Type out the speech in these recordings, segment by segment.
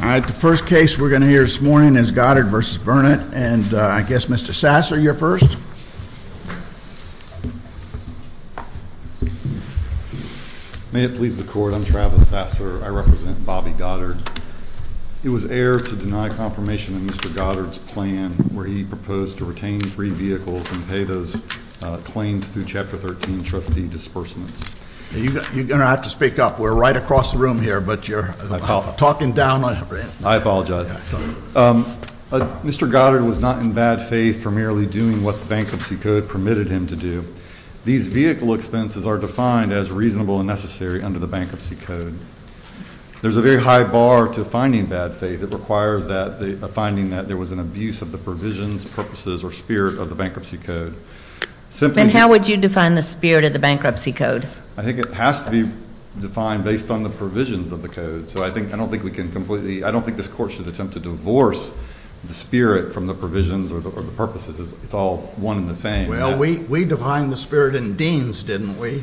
The first case we're going to hear this morning is Goddard v. Burnett. And I guess Mr. Sasser, you're first. May it please the Court, I'm Travis Sasser. I represent Bobby Goddard. It was error to deny confirmation of Mr. Goddard's plan where he proposed to retain three vehicles and pay those claims through Chapter 13 trustee disbursements. You're going to have to speak up. We're right across the room here, but you're talking down on me. I apologize. Mr. Goddard was not in bad faith for merely doing what the Bankruptcy Code permitted him to do. These vehicle expenses are defined as reasonable and necessary under the Bankruptcy Code. There's a very high bar to finding bad faith. It requires a finding that there was an abuse of the provisions, purposes, or spirit of the Bankruptcy Code. Then how would you define the spirit of the Bankruptcy Code? I think it has to be defined based on the provisions of the Code. So I don't think this Court should attempt to divorce the spirit from the provisions or the purposes. It's all one and the same. Well, we defined the spirit in Deans, didn't we?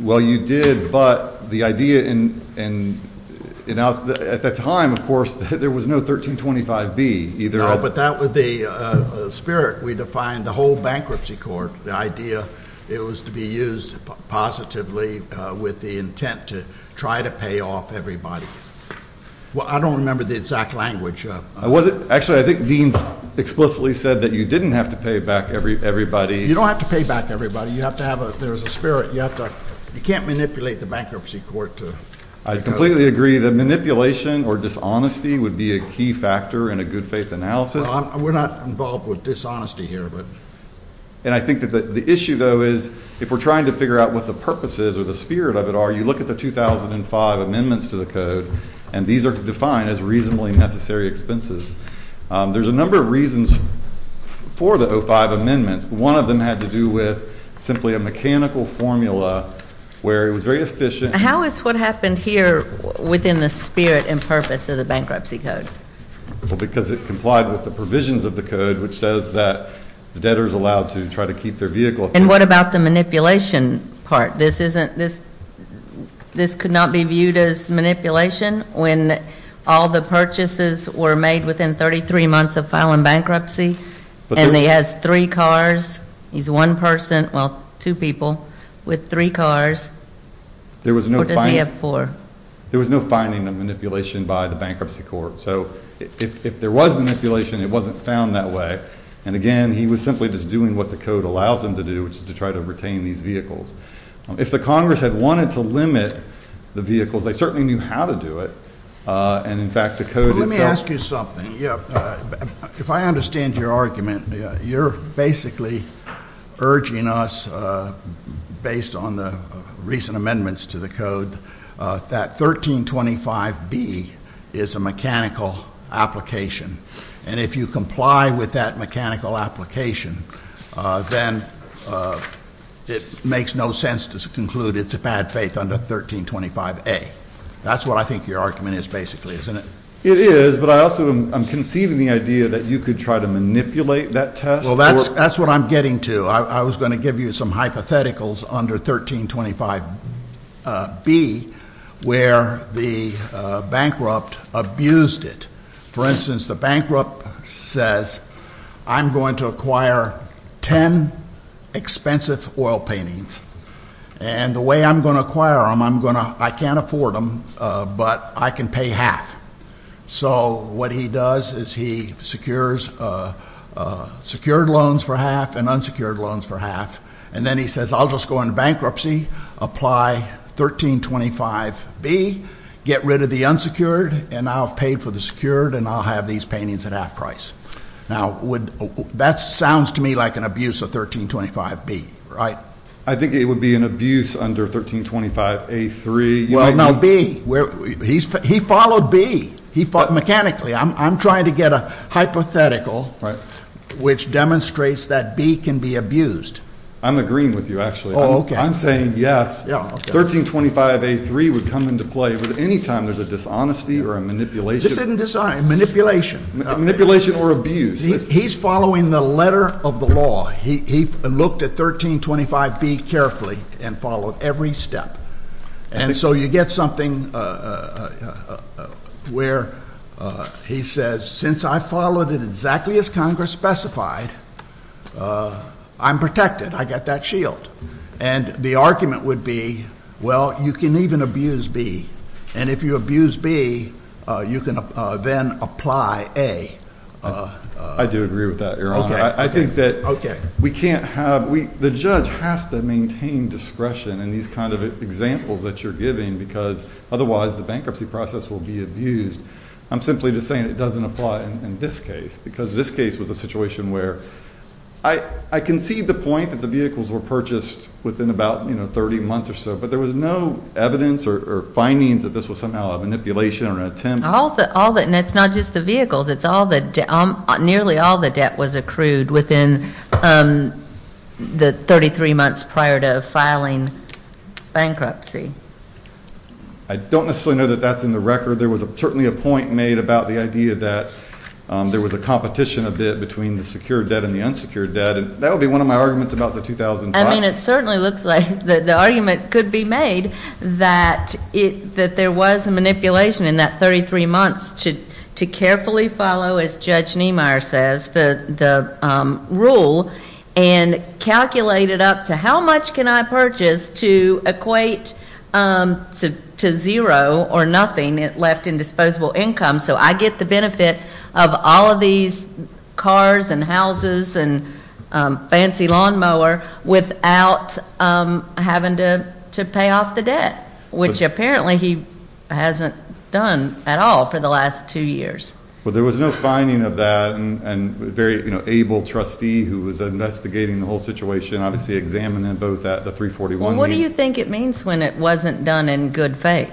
Well, you did, but the idea at that time, of course, there was no 1325B. No, but that was the spirit. We defined the whole Bankruptcy Court. The idea was to be used positively with the intent to try to pay off everybody. Well, I don't remember the exact language. Actually, I think Deans explicitly said that you didn't have to pay back everybody. You don't have to pay back everybody. There's a spirit. You can't manipulate the Bankruptcy Court. I completely agree that manipulation or dishonesty would be a key factor in a good-faith analysis. We're not involved with dishonesty here. And I think that the issue, though, is if we're trying to figure out what the purposes or the spirit of it are, you look at the 2005 amendments to the Code, and these are defined as reasonably necessary expenses. There's a number of reasons for the 2005 amendments. One of them had to do with simply a mechanical formula where it was very efficient. How is what happened here within the spirit and purpose of the Bankruptcy Code? Well, because it complied with the provisions of the Code, which says that the debtor is allowed to try to keep their vehicle. And what about the manipulation part? This could not be viewed as manipulation when all the purchases were made within 33 months of filing bankruptcy, and he has three cars, he's one person, well, two people with three cars. Or does he have four? There was no finding of manipulation by the Bankruptcy Court. So if there was manipulation, it wasn't found that way. And, again, he was simply just doing what the Code allows him to do, which is to try to retain these vehicles. If the Congress had wanted to limit the vehicles, they certainly knew how to do it. And, in fact, the Code itself- Let me ask you something. If I understand your argument, you're basically urging us, based on the recent amendments to the Code, that 1325B is a mechanical application. And if you comply with that mechanical application, then it makes no sense to conclude it's a bad faith under 1325A. That's what I think your argument is, basically, isn't it? It is, but I also am conceiving the idea that you could try to manipulate that test. Well, that's what I'm getting to. I was going to give you some hypotheticals under 1325B where the bankrupt abused it. For instance, the bankrupt says, I'm going to acquire ten expensive oil paintings. And the way I'm going to acquire them, I can't afford them, but I can pay half. So what he does is he secures secured loans for half and unsecured loans for half. And then he says, I'll just go into bankruptcy, apply 1325B, get rid of the unsecured, and I'll have paid for the secured, and I'll have these paintings at half price. Now, that sounds to me like an abuse of 1325B. Right. I think it would be an abuse under 1325A3. Well, no, B. He followed B. He thought mechanically. I'm trying to get a hypothetical which demonstrates that B can be abused. I'm agreeing with you, actually. Oh, okay. I'm saying yes. 1325A3 would come into play anytime there's a dishonesty or a manipulation. This isn't dishonesty. Manipulation. Manipulation or abuse. He's following the letter of the law. He looked at 1325B carefully and followed every step. And so you get something where he says, since I followed it exactly as Congress specified, I'm protected. I get that shield. And the argument would be, well, you can even abuse B, and if you abuse B, you can then apply A. I do agree with that, Your Honor. I think that we can't have ‑‑the judge has to maintain discretion in these kind of examples that you're giving because otherwise the bankruptcy process will be abused. I'm simply just saying it doesn't apply in this case because this case was a situation where I can see the point that the vehicles were purchased within about 30 months or so, but there was no evidence or findings that this was somehow a manipulation or an attempt. And it's not just the vehicles. Nearly all the debt was accrued within the 33 months prior to filing bankruptcy. I don't necessarily know that that's in the record. There was certainly a point made about the idea that there was a competition a bit between the secured debt and the unsecured debt, and that would be one of my arguments about the 2005. I mean, it certainly looks like the argument could be made that there was a manipulation in that 33 months to carefully follow, as Judge Niemeyer says, the rule and calculate it up to how much can I purchase to equate to zero or nothing left in disposable income So I get the benefit of all of these cars and houses and fancy lawnmower without having to pay off the debt, which apparently he hasn't done at all for the last two years. Well, there was no finding of that, and a very able trustee who was investigating the whole situation, obviously examining both at the 341 meeting. What do you think it means when it wasn't done in good faith?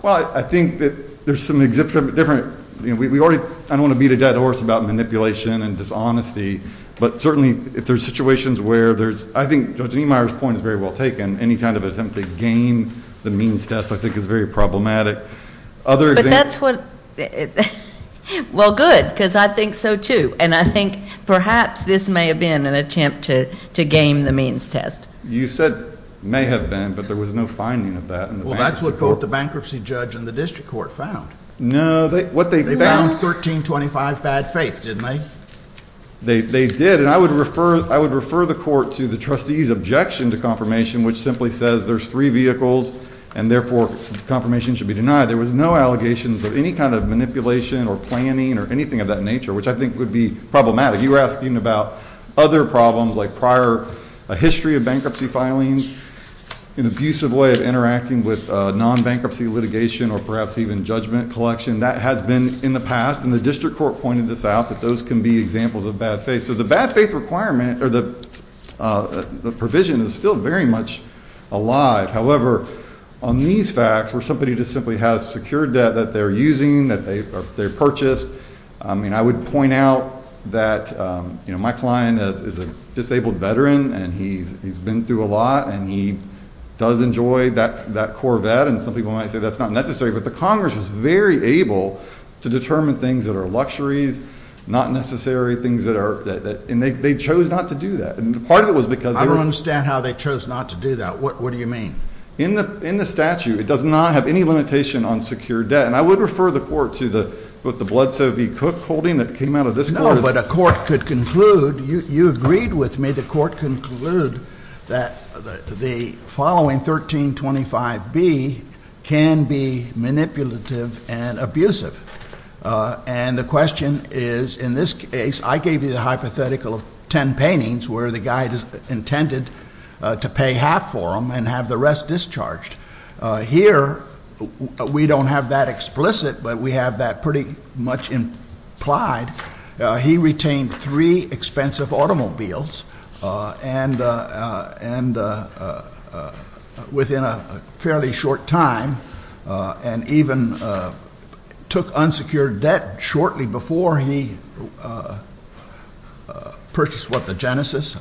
Well, I think that there's some different, you know, I don't want to beat a dead horse about manipulation and dishonesty, but certainly if there's situations where there's, I think Judge Niemeyer's point is very well taken, any kind of attempt to game the means test I think is very problematic. But that's what, well, good, because I think so, too, and I think perhaps this may have been an attempt to game the means test. You said may have been, but there was no finding of that. Well, that's what both the bankruptcy judge and the district court found. No. They found 1325 bad faith, didn't they? They did, and I would refer the court to the trustee's objection to confirmation, which simply says there's three vehicles, and therefore confirmation should be denied. There was no allegations of any kind of manipulation or planning or anything of that nature, which I think would be problematic. You were asking about other problems like prior history of bankruptcy filings, an abusive way of interacting with non-bankruptcy litigation or perhaps even judgment collection. That has been in the past, and the district court pointed this out, that those can be examples of bad faith. So the bad faith requirement or the provision is still very much alive. However, on these facts where somebody just simply has secured debt that they're using, that they purchased, I would point out that my client is a disabled veteran, and he's been through a lot, and he does enjoy that Corvette, and some people might say that's not necessary, but the Congress was very able to determine things that are luxuries, not necessary, and they chose not to do that. I don't understand how they chose not to do that. What do you mean? In the statute, it does not have any limitation on secured debt, and I would refer the court to the Blood Soapy Cook holding that came out of this court. No, but a court could conclude, you agreed with me, the court could conclude that the following 1325B can be manipulative and abusive. And the question is, in this case, I gave you the hypothetical of ten paintings where the guy intended to pay half for them and have the rest discharged. Here, we don't have that explicit, but we have that pretty much implied. He retained three expensive automobiles, and within a fairly short time, and even took unsecured debt shortly before he purchased, what, the Genesis?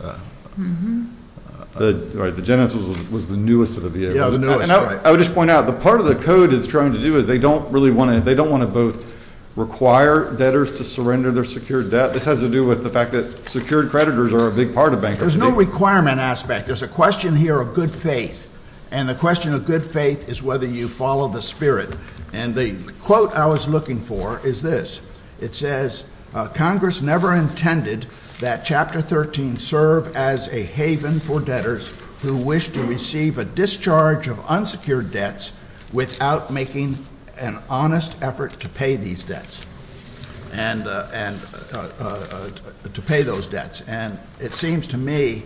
Right, the Genesis was the newest of the vehicles. Yeah, the newest, right. And I would just point out, the part of the code is trying to do is they don't really want to, they don't want to both require debtors to surrender their secured debt. This has to do with the fact that secured creditors are a big part of bankruptcy. There's no requirement aspect. There's a question here of good faith, and the question of good faith is whether you follow the spirit. And the quote I was looking for is this. It says, Congress never intended that Chapter 13 serve as a haven for debtors who wish to receive a discharge of unsecured debts without making an honest effort to pay these debts, and to pay those debts. And it seems to me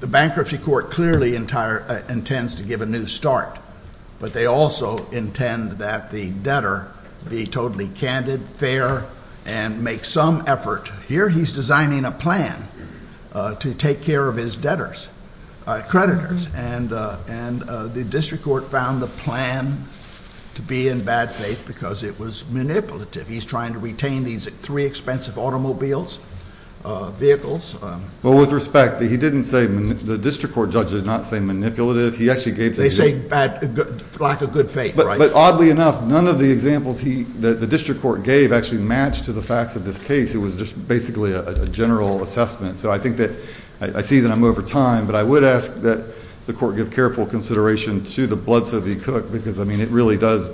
the bankruptcy court clearly intends to give a new start, but they also intend that the debtor be totally candid, fair, and make some effort. Here he's designing a plan to take care of his debtors, creditors, and the district court found the plan to be in bad faith because it was manipulative. He's trying to retain these three expensive automobiles, vehicles. Well, with respect, he didn't say, the district court judge did not say manipulative. They say lack of good faith, right? But oddly enough, none of the examples the district court gave actually matched to the facts of this case. It was just basically a general assessment. So I think that I see that I'm over time, but I would ask that the court give careful consideration to the blood subpoena because, I mean, it really does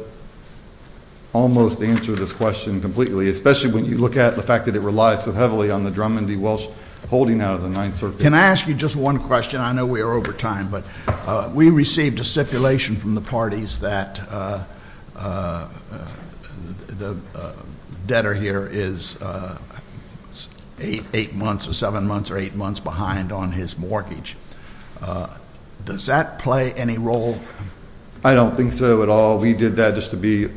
almost answer this question completely, especially when you look at the fact that it relies so heavily on the Drummond v. Welsh holding out of the Ninth Circuit. Can I ask you just one question? I know we are over time, but we received a stipulation from the parties that the debtor here is eight months or seven months or eight months behind on his mortgage. Does that play any role? I don't think so at all. We did that just to be,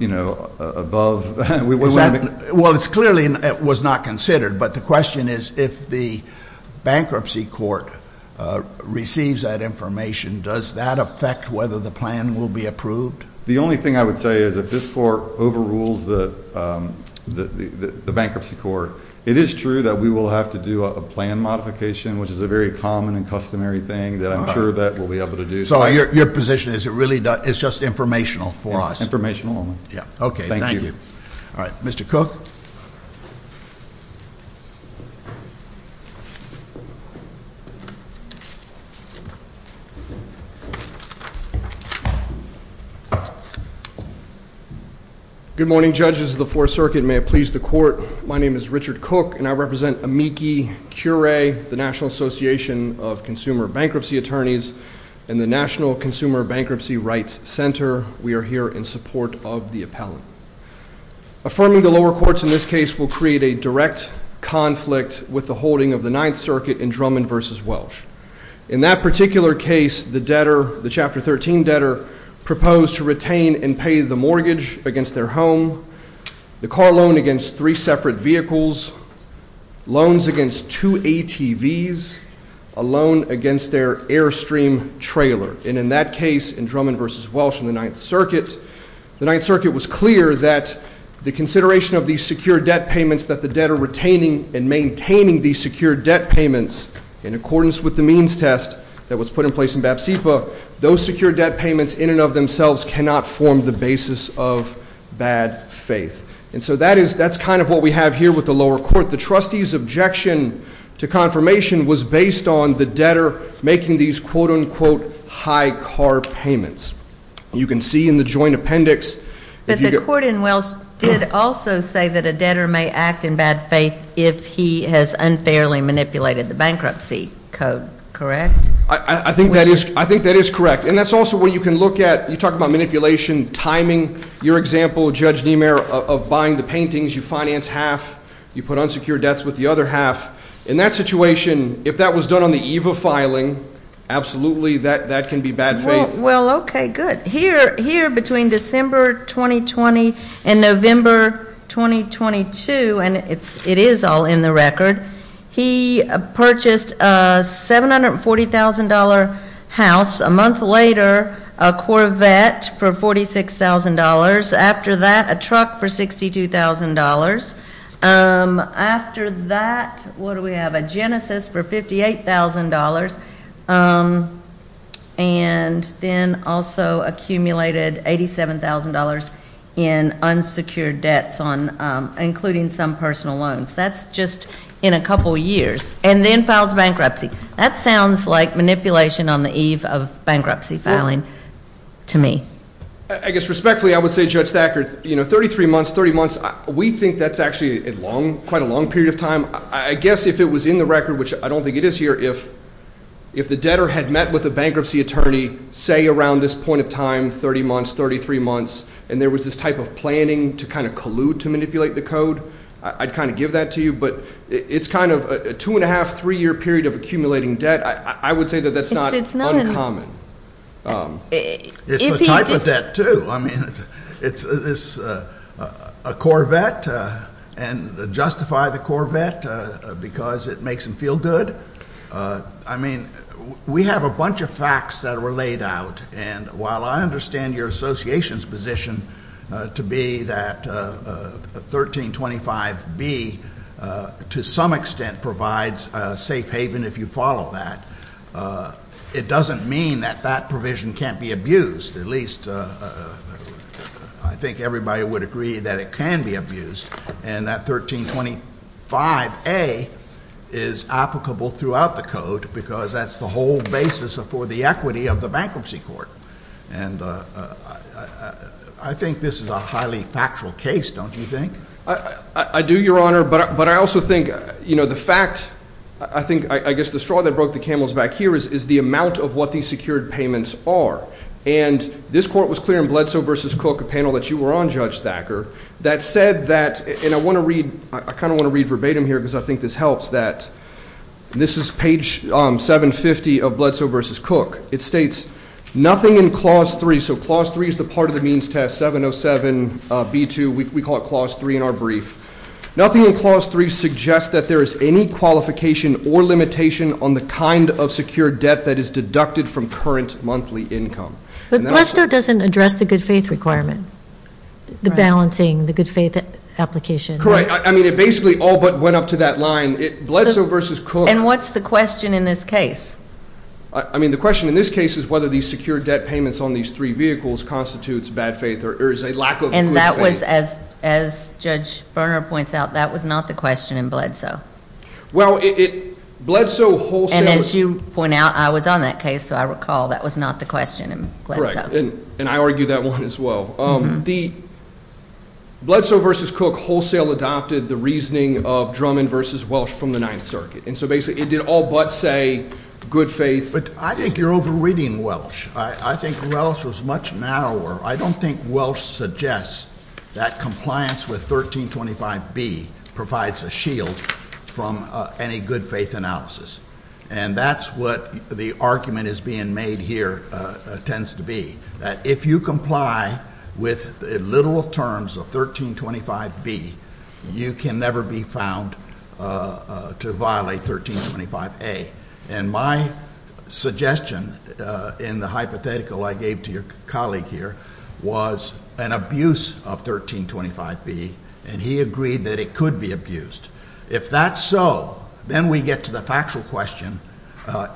you know, above. Well, it clearly was not considered, but the question is if the bankruptcy court receives that information, does that affect whether the plan will be approved? The only thing I would say is if this court overrules the bankruptcy court, it is true that we will have to do a plan modification, which is a very common and customary thing that I'm sure that we'll be able to do. So your position is it really is just informational for us? Informational only. Okay, thank you. All right, Mr. Cook. Good morning, judges of the Fourth Circuit. May it please the court, my name is Richard Cook, and I represent AMICI Curay, the National Association of Consumer Bankruptcy Attorneys, and the National Consumer Bankruptcy Rights Center. We are here in support of the appellant. Affirming the lower courts in this case will create a direct conflict with the holding of the Ninth Circuit in Drummond v. Welsh. In that particular case, the debtor, the Chapter 13 debtor, proposed to retain and pay the mortgage against their home, the car loan against three separate vehicles, loans against two ATVs, a loan against their Airstream trailer. And in that case, in Drummond v. Welsh in the Ninth Circuit, the Ninth Circuit was clear that the consideration of these secure debt payments that the debtor retaining and maintaining these secure debt payments in accordance with the means test that was put in place in BAPSIPA, those secure debt payments in and of themselves cannot form the basis of bad faith. And so that's kind of what we have here with the lower court. The trustee's objection to confirmation was based on the debtor making these quote-unquote high car payments. You can see in the joint appendix. But the court in Welsh did also say that a debtor may act in bad faith if he has unfairly manipulated the bankruptcy code, correct? I think that is correct. And that's also where you can look at, you talk about manipulation, timing. Your example, Judge Niemeyer, of buying the paintings, you finance half, you put unsecured debts with the other half. In that situation, if that was done on the eve of filing, absolutely that can be bad faith. Well, okay, good. Here between December 2020 and November 2022, and it is all in the record, he purchased a $740,000 house. A month later, a Corvette for $46,000. After that, a truck for $62,000. After that, what do we have? A Genesis for $58,000. And then also accumulated $87,000 in unsecured debts, including some personal loans. That's just in a couple years. And then files bankruptcy. That sounds like manipulation on the eve of bankruptcy filing to me. I guess respectfully, I would say, Judge Thacker, 33 months, 30 months, we think that's actually quite a long period of time. I guess if it was in the record, which I don't think it is here, if the debtor had met with a bankruptcy attorney, say, around this point of time, 30 months, 33 months, and there was this type of planning to kind of collude to manipulate the code, I'd kind of give that to you. But it's kind of a two-and-a-half, three-year period of accumulating debt. I would say that that's not uncommon. It's a type of debt, too. Well, I mean, it's a Corvette, and justify the Corvette because it makes them feel good. I mean, we have a bunch of facts that were laid out, and while I understand your association's position to be that 1325B to some extent provides a safe haven if you follow that, it doesn't mean that that provision can't be abused. At least I think everybody would agree that it can be abused, and that 1325A is applicable throughout the code because that's the whole basis for the equity of the bankruptcy court. And I think this is a highly factual case, don't you think? I do, Your Honor, but I also think, you know, the fact, I think, I guess the straw that broke the camel's back here is the amount of what these secured payments are. And this court was clear in Bledsoe v. Cook, a panel that you were on, Judge Thacker, that said that, and I want to read, I kind of want to read verbatim here because I think this helps, that this is page 750 of Bledsoe v. Cook. It states, nothing in Clause 3, so Clause 3 is the part of the means test, 707B2. We call it Clause 3 in our brief. Nothing in Clause 3 suggests that there is any qualification or limitation on the kind of secured debt that is deducted from current monthly income. But Blessoe doesn't address the good faith requirement, the balancing, the good faith application. Correct. I mean, it basically all but went up to that line. Bledsoe v. Cook. And what's the question in this case? I mean, the question in this case is whether these secured debt payments on these three vehicles constitutes bad faith or is a lack of good faith. And that was, as Judge Berner points out, that was not the question in Bledsoe. Well, Bledsoe wholesale. And as you point out, I was on that case, so I recall that was not the question in Bledsoe. Correct. And I argue that one as well. The Bledsoe v. Cook wholesale adopted the reasoning of Drummond v. Welsh from the Ninth Circuit. And so basically it did all but say good faith. But I think you're over-reading Welsh. I think Welsh was much narrower. I don't think Welsh suggests that compliance with 1325B provides a shield from any good faith analysis. And that's what the argument is being made here tends to be, that if you comply with literal terms of 1325B, you can never be found to violate 1325A. And my suggestion in the hypothetical I gave to your colleague here was an abuse of 1325B, and he agreed that it could be abused. If that's so, then we get to the factual question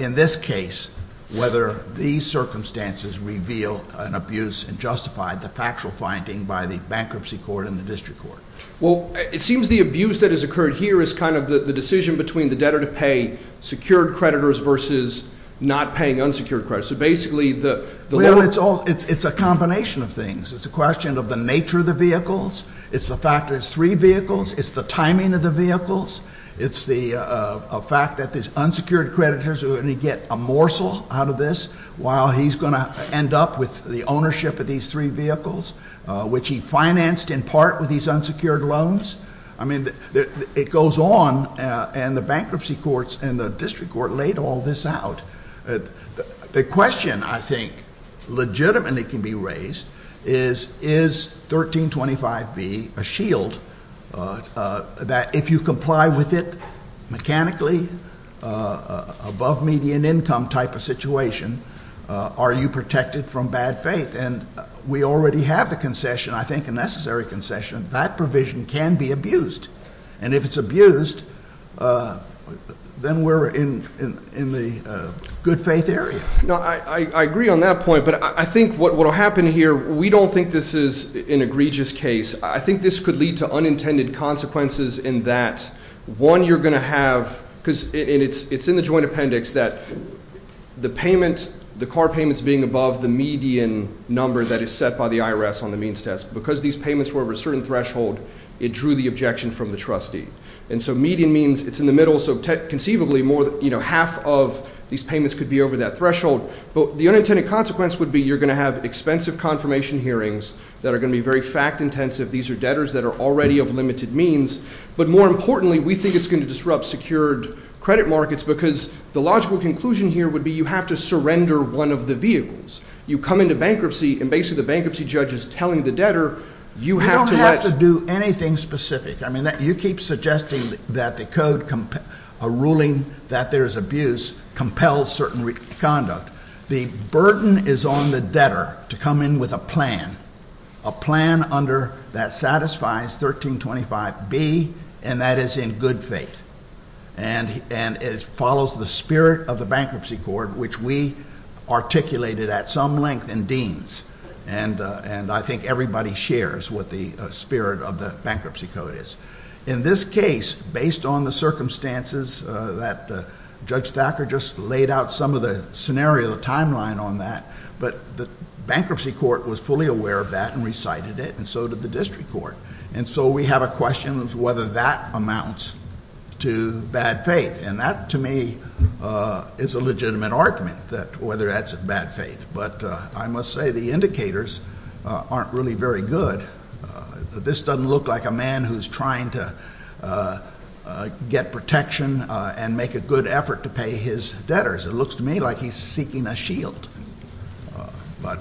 in this case, whether these circumstances reveal an abuse and justify the factual finding by the bankruptcy court and the district court. Well, it seems the abuse that has occurred here is kind of the decision between the debtor-to-pay secured creditors versus not paying unsecured creditors. So basically the lower- Well, it's a combination of things. It's a question of the nature of the vehicles. It's the fact that it's three vehicles. It's the timing of the vehicles. It's the fact that these unsecured creditors are going to get a morsel out of this while he's going to end up with the ownership of these three vehicles, which he financed in part with these unsecured loans. I mean, it goes on, and the bankruptcy courts and the district court laid all this out. The question I think legitimately can be raised is, is 1325B a shield that if you comply with it mechanically, above median income type of situation, are you protected from bad faith? And we already have the concession, I think a necessary concession. That provision can be abused. And if it's abused, then we're in the good faith area. No, I agree on that point. But I think what will happen here, we don't think this is an egregious case. I think this could lead to unintended consequences in that, one, you're going to have, because it's in the joint appendix that the payment, the car payments being above the median number that is set by the IRS on the means test. Because these payments were over a certain threshold, it drew the objection from the trustee. And so median means it's in the middle, so conceivably half of these payments could be over that threshold. But the unintended consequence would be you're going to have expensive confirmation hearings that are going to be very fact intensive. These are debtors that are already of limited means. But more importantly, we think it's going to disrupt secured credit markets because the logical conclusion here would be you have to surrender one of the vehicles. You come into bankruptcy, and basically the bankruptcy judge is telling the debtor you have to let- You don't have to do anything specific. I mean, you keep suggesting that the code, a ruling that there is abuse, compels certain conduct. The burden is on the debtor to come in with a plan, a plan that satisfies 1325B, and that is in good faith. And it follows the spirit of the Bankruptcy Code, which we articulated at some length in Deans. And I think everybody shares what the spirit of the Bankruptcy Code is. In this case, based on the circumstances that Judge Thacker just laid out some of the scenario, the timeline on that, but the bankruptcy court was fully aware of that and recited it, and so did the district court. And so we have a question as to whether that amounts to bad faith. And that, to me, is a legitimate argument, whether that's bad faith. But I must say the indicators aren't really very good. This doesn't look like a man who's trying to get protection and make a good effort to pay his debtors. It looks to me like he's seeking a shield. But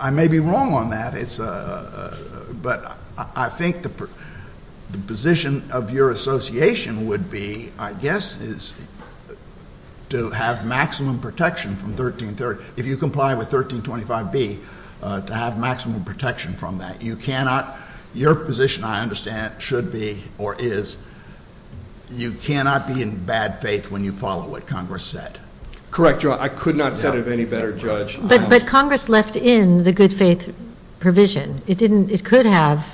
I may be wrong on that. But I think the position of your association would be, I guess, is to have maximum protection from 1330. If you comply with 1325B, to have maximum protection from that. Your position, I understand, should be, or is, you cannot be in bad faith when you follow what Congress said. Correct, Your Honor. I could not have said it any better, Judge. But Congress left in the good faith provision. It could have,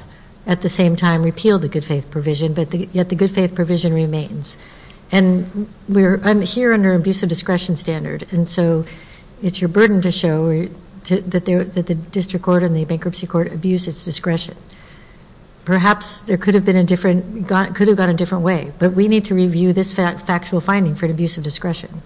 at the same time, repealed the good faith provision, but yet the good faith provision remains. And we're here under an abuse of discretion standard. And so it's your burden to show that the district court and the bankruptcy court abused its discretion. Perhaps there could have been a different, could have gone a different way. But we need to review this factual finding for an abuse of discretion.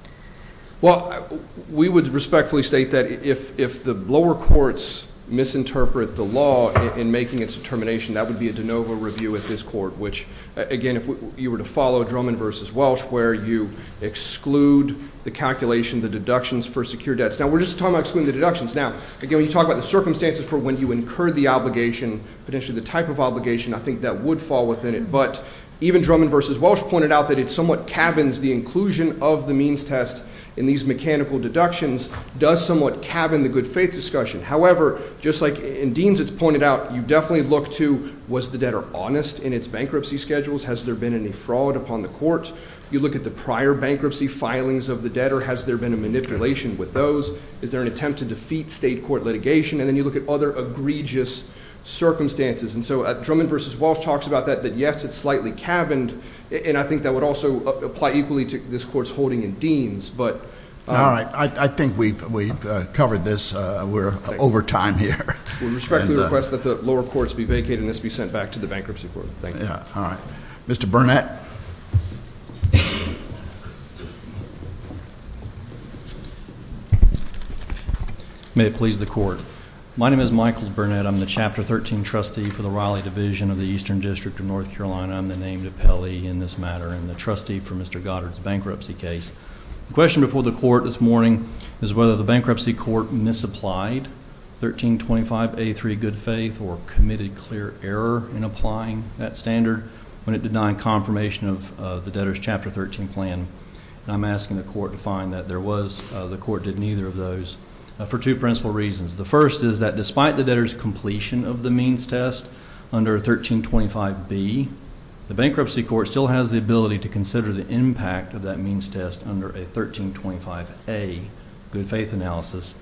Well, we would respectfully state that if the lower courts misinterpret the law in making its determination, that would be a de novo review at this court. Which, again, if you were to follow Drummond v. Welsh, where you exclude the calculation, the deductions for secure debts. Now, we're just talking about excluding the deductions. Now, again, when you talk about the circumstances for when you incurred the obligation, potentially the type of obligation, I think that would fall within it. But even Drummond v. Welsh pointed out that it somewhat cabins the inclusion of the means test in these mechanical deductions, does somewhat cabin the good faith discussion. However, just like in Deans it's pointed out, you definitely look to was the debtor honest in its bankruptcy schedules? Has there been any fraud upon the court? You look at the prior bankruptcy filings of the debtor. Has there been a manipulation with those? Is there an attempt to defeat state court litigation? And then you look at other egregious circumstances. And so Drummond v. Welsh talks about that, that, yes, it's slightly cabined. And I think that would also apply equally to this court's holding in Deans. All right. I think we've covered this. We're over time here. We respectfully request that the lower courts be vacated and this be sent back to the bankruptcy court. Thank you. All right. Mr. Burnett. May it please the court. My name is Michael Burnett. I'm the Chapter 13 trustee for the Riley Division of the Eastern District of North Carolina. I'm the named appellee in this matter and the trustee for Mr. Goddard's bankruptcy case. The question before the court this morning is whether the bankruptcy court misapplied 1325A3 good faith or committed clear error in applying that standard when it denied confirmation of the debtor's Chapter 13 plan. And I'm asking the court to find that there was. The court did neither of those for two principal reasons. The first is that despite the debtor's completion of the means test under 1325B, the bankruptcy court still has the ability to consider the impact of that means test under a 1325A good faith analysis.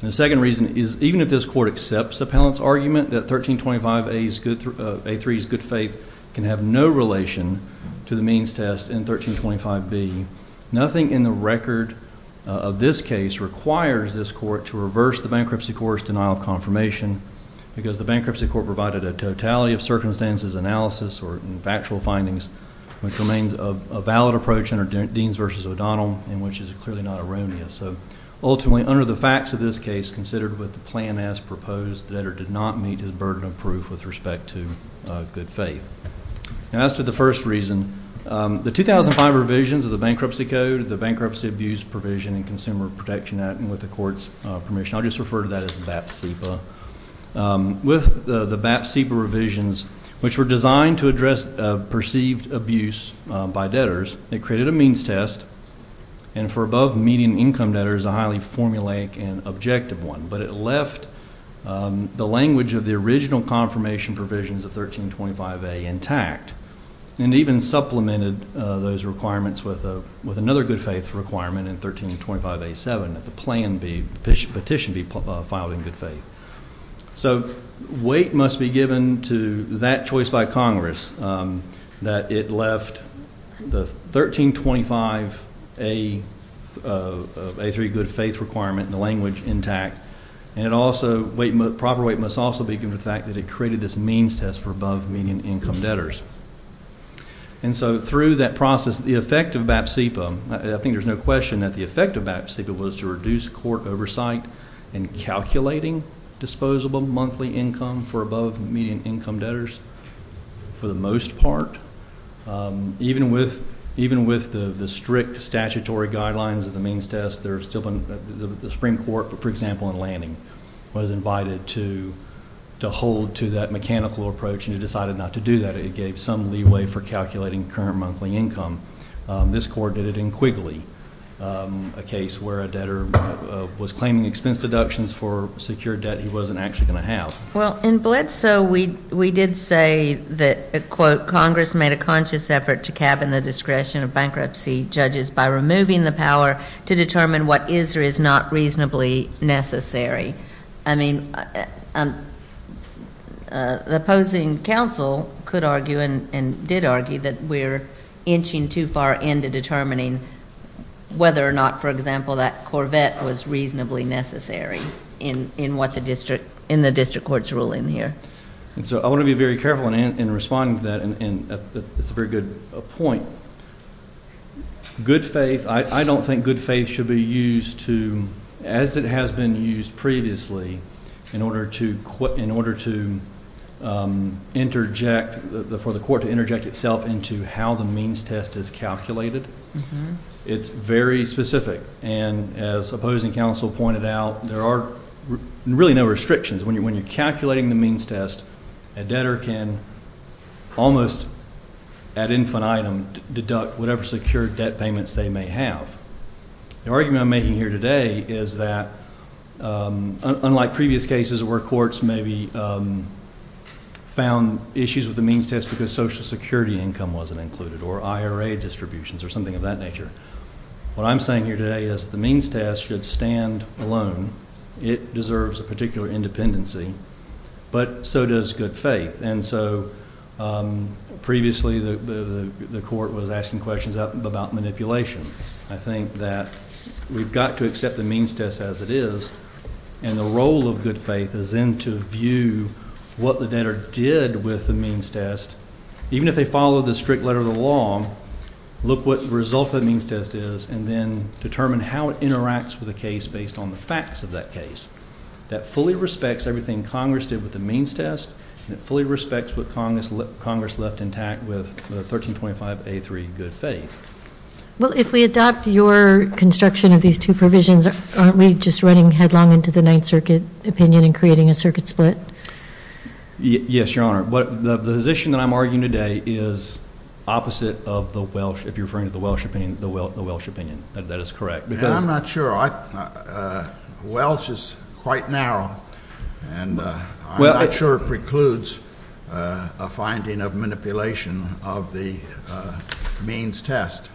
And the second reason is even if this court accepts the appellant's argument that 1325A3's good faith can have no relation to the means test in 1325B, nothing in the record of this case requires this court to reverse the bankruptcy court's denial of confirmation because the bankruptcy court provided a totality of circumstances analysis or factual findings which remains a valid approach under Deans v. O'Donnell and which is clearly not erroneous. Ultimately, under the facts of this case, considered with the plan as proposed, the debtor did not meet his burden of proof with respect to good faith. As to the first reason, the 2005 revisions of the bankruptcy code, the bankruptcy abuse provision, and with the court's permission, I'll just refer to that as BAPSEPA. With the BAPSEPA revisions, which were designed to address perceived abuse by debtors, it created a means test and for above-median income debtors, a highly formulaic and objective one, but it left the language of the original confirmation provisions of 1325A intact and even supplemented those requirements with another good faith requirement in 1325A7, that the petition be filed in good faith. So weight must be given to that choice by Congress that it left the 1325A3 good faith requirement in the language intact and proper weight must also be given to the fact that it created this means test for above-median income debtors. And so through that process, the effect of BAPSEPA, I think there's no question that the effect of BAPSEPA was to reduce court oversight in calculating disposable monthly income for above-median income debtors for the most part. Even with the strict statutory guidelines of the means test, the Supreme Court, for example, in Lanning, was invited to hold to that mechanical approach and it decided not to do that. It gave some leeway for calculating current monthly income. This court did it in Quigley, a case where a debtor was claiming expense deductions for secured debt he wasn't actually going to have. Well, in Bledsoe, we did say that, quote, of bankruptcy judges by removing the power to determine what is or is not reasonably necessary. I mean, the opposing counsel could argue and did argue that we're inching too far into determining whether or not, for example, that Corvette was reasonably necessary in what the district, in the district court's ruling here. And so I want to be very careful in responding to that, and it's a very good point. Good faith, I don't think good faith should be used to, as it has been used previously, in order to interject, for the court to interject itself into how the means test is calculated. It's very specific, and as opposing counsel pointed out, there are really no restrictions. When you're calculating the means test, a debtor can almost ad infinitum deduct whatever secured debt payments they may have. The argument I'm making here today is that, unlike previous cases where courts maybe found issues with the means test because Social Security income wasn't included or IRA distributions or something of that nature, what I'm saying here today is the means test should stand alone. It deserves a particular independency, but so does good faith. And so previously the court was asking questions about manipulation. I think that we've got to accept the means test as it is, and the role of good faith is then to view what the debtor did with the means test. Even if they follow the strict letter of the law, look what the result of the means test is, and then determine how it interacts with the case based on the facts of that case. That fully respects everything Congress did with the means test, and it fully respects what Congress left intact with the 1325A3 good faith. Well, if we adopt your construction of these two provisions, aren't we just running headlong into the Ninth Circuit opinion and creating a circuit split? Yes, Your Honor. The position that I'm arguing today is opposite of the Welsh, if you're referring to the Welsh opinion. That is correct. I'm not sure. Welsh is quite narrow, and I'm not sure it precludes a finding of manipulation of the means test.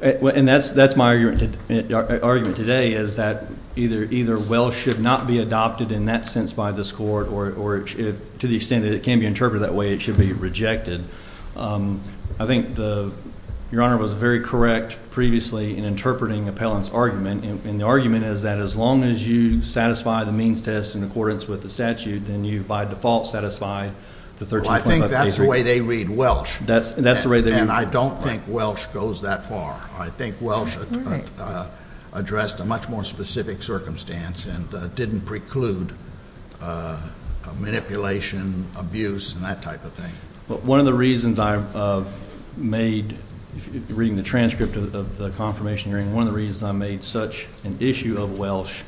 And that's my argument today is that either Welsh should not be adopted in that sense by this court, or to the extent that it can be interpreted that way, it should be rejected. I think Your Honor was very correct previously in interpreting Appellant's argument, and the argument is that as long as you satisfy the means test in accordance with the statute, then you by default satisfy the 1325A3. Well, I think that's the way they read Welsh. That's the way they read Welsh. And I don't think Welsh goes that far. I think Welsh addressed a much more specific circumstance and didn't preclude manipulation, abuse, and that type of thing. One of the reasons I made, reading the transcript of the confirmation hearing, one of the reasons I made such an issue of Welsh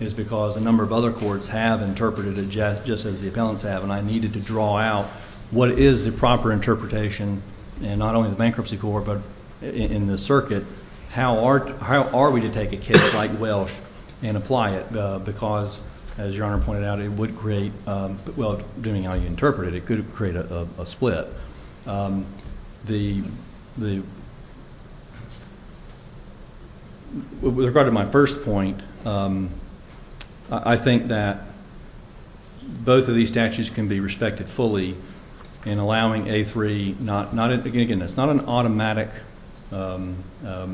is because a number of other courts have interpreted it just as the appellants have, and I needed to draw out what is the proper interpretation in not only the bankruptcy court but in the circuit. How are we to take a case like Welsh and apply it? Because, as Your Honor pointed out, it would create, well, depending on how you interpret it, it could create a split. With regard to my first point, I think that both of these statutes can be respected fully in allowing A3, again, it's not an automatic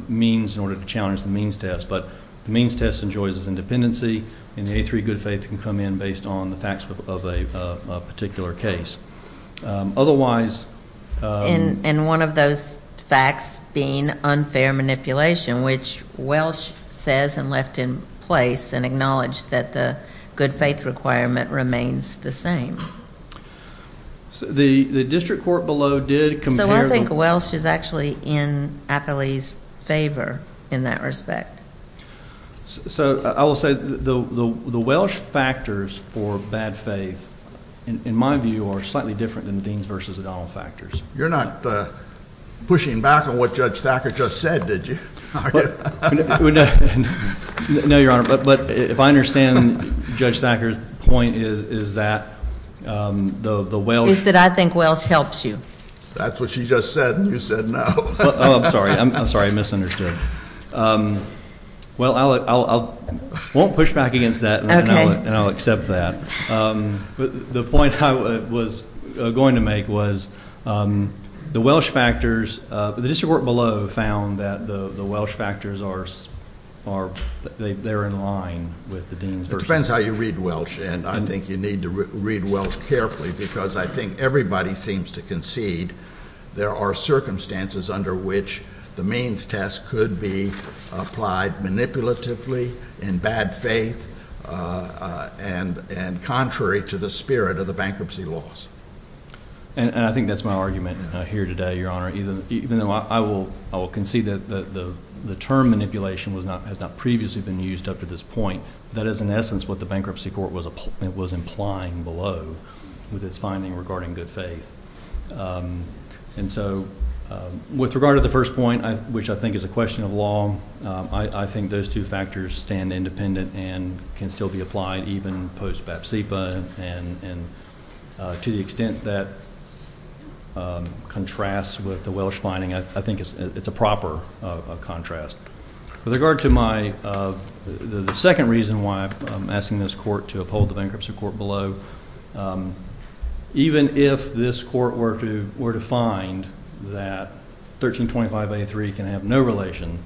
means in order to challenge the means test, but the means test enjoys its independency, and the A3 good faith can come in based on the facts of a particular case. Otherwise ---- And one of those facts being unfair manipulation, which Welsh says and left in place and acknowledged that the good faith requirement remains the same. The district court below did compare the ---- So I think Welsh is actually in Appley's favor in that respect. So I will say the Welsh factors for bad faith, in my view, are slightly different than the Dean's versus O'Donnell factors. You're not pushing back on what Judge Thacker just said, did you? No, Your Honor. But if I understand Judge Thacker's point is that the Welsh ---- Is that I think Welsh helps you. That's what she just said, and you said no. Oh, I'm sorry. I'm sorry. I misunderstood. Well, I won't push back against that, and I'll accept that. The point I was going to make was the Welsh factors, the district court below found that the Welsh factors are in line with the Dean's versus O'Donnell. It depends how you read Welsh, and I think you need to read Welsh carefully because I think everybody seems to concede there are circumstances under which the means test could be applied manipulatively in bad faith and contrary to the spirit of the bankruptcy laws. And I think that's my argument here today, Your Honor, even though I will concede that the term manipulation has not previously been used up to this point. That is, in essence, what the bankruptcy court was implying below with its finding regarding good faith. And so with regard to the first point, which I think is a question of law, I think those two factors stand independent and can still be applied even post-BAPSEPA, and to the extent that contrasts with the Welsh finding, I think it's a proper contrast. With regard to my second reason why I'm asking this court to uphold the bankruptcy court below, even if this court were to find that 1325A3 can have no relation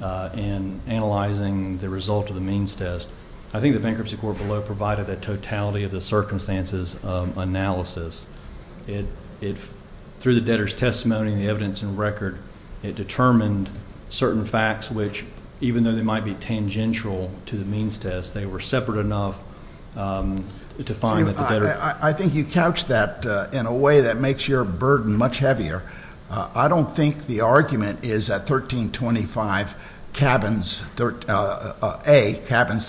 in analyzing the result of the means test, I think the bankruptcy court below provided a totality of the circumstances analysis. Through the debtor's testimony and the evidence and record, it determined certain facts which, even though they might be tangential to the means test, they were separate enough to find that the debtor. I think you couched that in a way that makes your burden much heavier. I don't think the argument is that 1325A cabins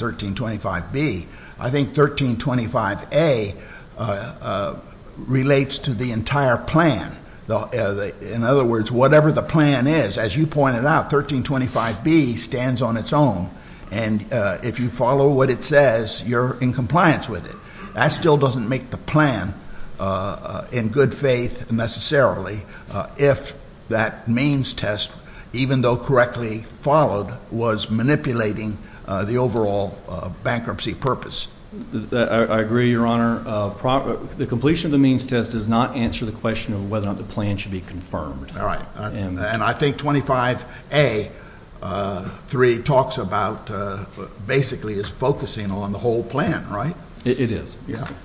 1325B. I think 1325A relates to the entire plan. In other words, whatever the plan is, as you pointed out, 1325B stands on its own. And if you follow what it says, you're in compliance with it. That still doesn't make the plan in good faith, necessarily, if that means test, even though correctly followed, was manipulating the overall bankruptcy purpose. I agree, Your Honor. The completion of the means test does not answer the question of whether or not the plan should be confirmed. All right. And I think 25A 3 talks about basically is focusing on the whole plan, right? It is.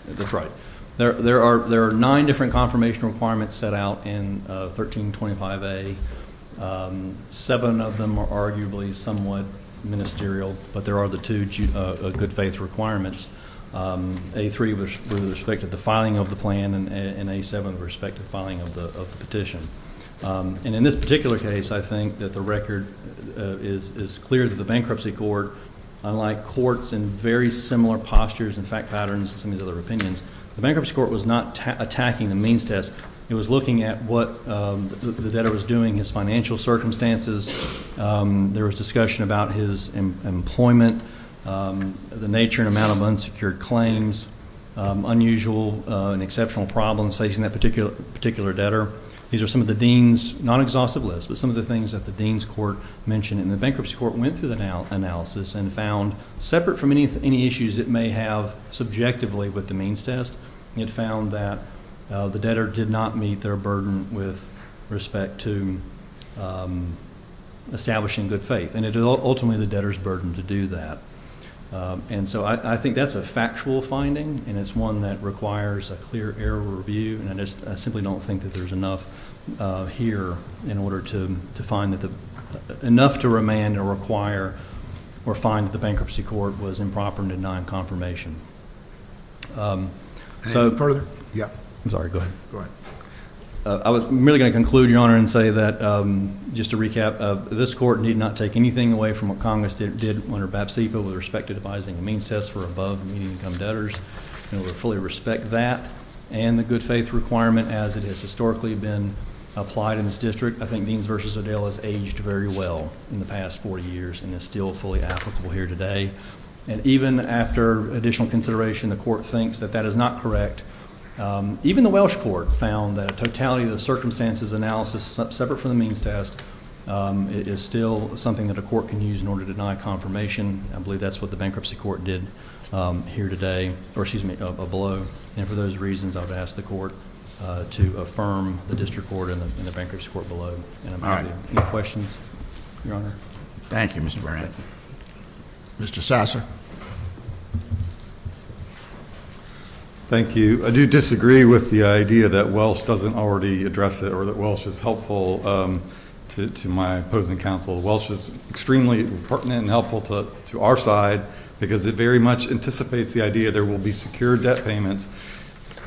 That's right. There are nine different confirmation requirements set out in 1325A. Seven of them are arguably somewhat ministerial, but there are the two good faith requirements. A3 with respect to the filing of the plan and A7 with respect to filing of the petition. And in this particular case, I think that the record is clear that the bankruptcy court, unlike courts in very similar postures and fact patterns to some of these other opinions, the bankruptcy court was not attacking the means test. It was looking at what the debtor was doing, his financial circumstances. There was discussion about his employment, the nature and amount of unsecured claims, unusual and exceptional problems facing that particular debtor. These are some of the dean's, not exhaustive list, but some of the things that the dean's court mentioned. And the bankruptcy court went through the analysis and found, separate from any issues it may have subjectively with the means test, it found that the debtor did not meet their burden with respect to establishing good faith, and it ultimately the debtor's burden to do that. And so I think that's a factual finding, and it's one that requires a clear error review, and I just simply don't think that there's enough here in order to find that the – enough to remand or require or find that the bankruptcy court was improper in denying confirmation. Anything further? Yeah. I'm sorry, go ahead. Go ahead. I was merely going to conclude, Your Honor, and say that, just to recap, this court need not take anything away from what Congress did under BAPSEPA with respect to devising a means test for above median income debtors, and we fully respect that and the good faith requirement as it has historically been applied in this district. I think Deans v. O'Dell has aged very well in the past 40 years and is still fully applicable here today. And even after additional consideration, the court thinks that that is not correct. Even the Welsh court found that a totality of the circumstances analysis, separate from the means test, is still something that a court can use in order to deny confirmation. I believe that's what the bankruptcy court did here today – or, excuse me, below. And for those reasons, I would ask the court to affirm the district court and the bankruptcy court below. All right. Any questions, Your Honor? Thank you, Mr. Bryant. Mr. Sasser. Thank you. I do disagree with the idea that Welsh doesn't already address it or that Welsh is helpful to my opposing counsel. Welsh is extremely pertinent and helpful to our side because it very much anticipates the idea there will be secure debt payments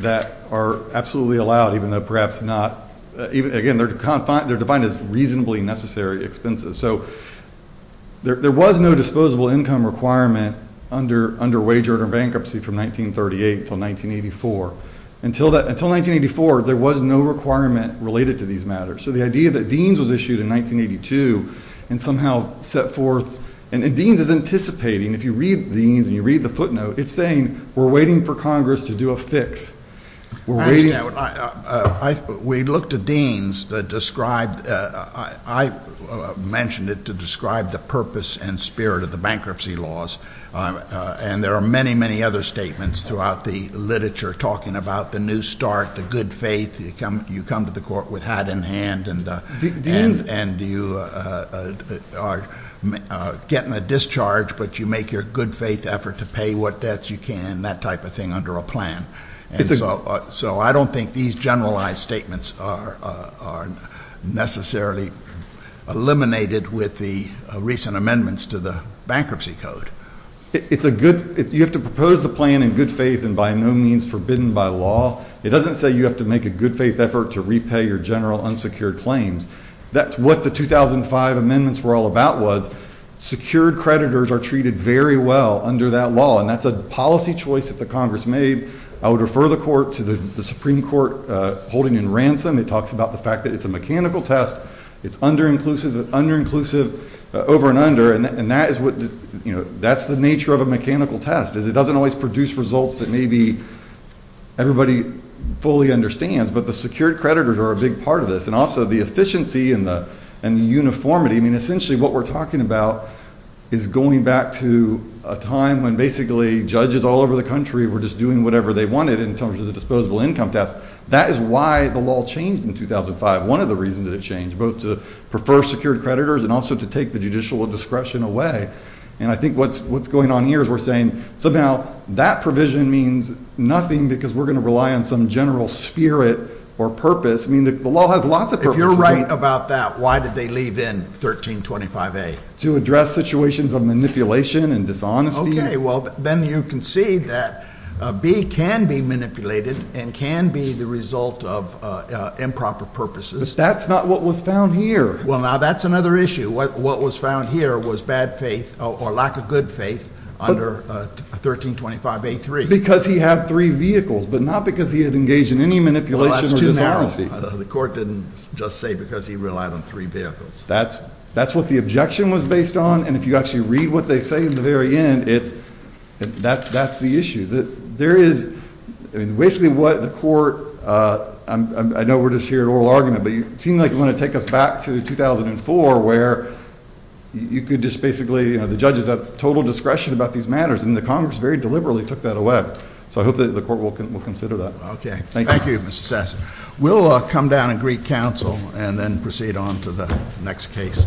that are absolutely allowed, even though perhaps not – again, they're defined as reasonably necessary expenses. So there was no disposable income requirement under wage order bankruptcy from 1938 until 1984. Until 1984, there was no requirement related to these matters. So the idea that Deans was issued in 1982 and somehow set forth – and Deans is anticipating – if you read Deans and you read the footnote, it's saying we're waiting for Congress to do a fix. We looked at Deans that described – I mentioned it to describe the purpose and spirit of the bankruptcy laws, and there are many, many other statements throughout the literature talking about the new start, the good faith. You come to the court with hat in hand and you are getting a discharge, but you make your good faith effort to pay what debts you can, and that type of thing under a plan. So I don't think these generalized statements are necessarily eliminated with the recent amendments to the bankruptcy code. It's a good – you have to propose the plan in good faith and by no means forbidden by law. It doesn't say you have to make a good faith effort to repay your general unsecured claims. That's what the 2005 amendments were all about was secured creditors are treated very well under that law, and that's a policy choice that the Congress made. I would refer the court to the Supreme Court holding in ransom. It talks about the fact that it's a mechanical test. It's under-inclusive over and under, and that's the nature of a mechanical test is it doesn't always produce results that maybe everybody fully understands, but the secured creditors are a big part of this, and also the efficiency and the uniformity. I mean, essentially what we're talking about is going back to a time when basically judges all over the country were just doing whatever they wanted in terms of the disposable income test. That is why the law changed in 2005, one of the reasons that it changed, both to prefer secured creditors and also to take the judicial discretion away. And I think what's going on here is we're saying somehow that provision means nothing because we're going to rely on some general spirit or purpose. I mean, the law has lots of purposes. If you're right about that, why did they leave in 1325A? To address situations of manipulation and dishonesty. Okay, well, then you can see that B can be manipulated and can be the result of improper purposes. But that's not what was found here. Well, now that's another issue. What was found here was bad faith or lack of good faith under 1325A3. Because he had three vehicles, but not because he had engaged in any manipulation or dishonesty. The court didn't just say because he relied on three vehicles. That's what the objection was based on, and if you actually read what they say in the very end, that's the issue. There is basically what the court, I know we're just here at oral argument, but it seems like you want to take us back to 2004 where you could just basically, you know, the judges have total discretion about these matters, and the Congress very deliberately took that away. So I hope that the court will consider that. Okay. Thank you, Mr. Sasson. We'll come down and greet counsel and then proceed on to the next case.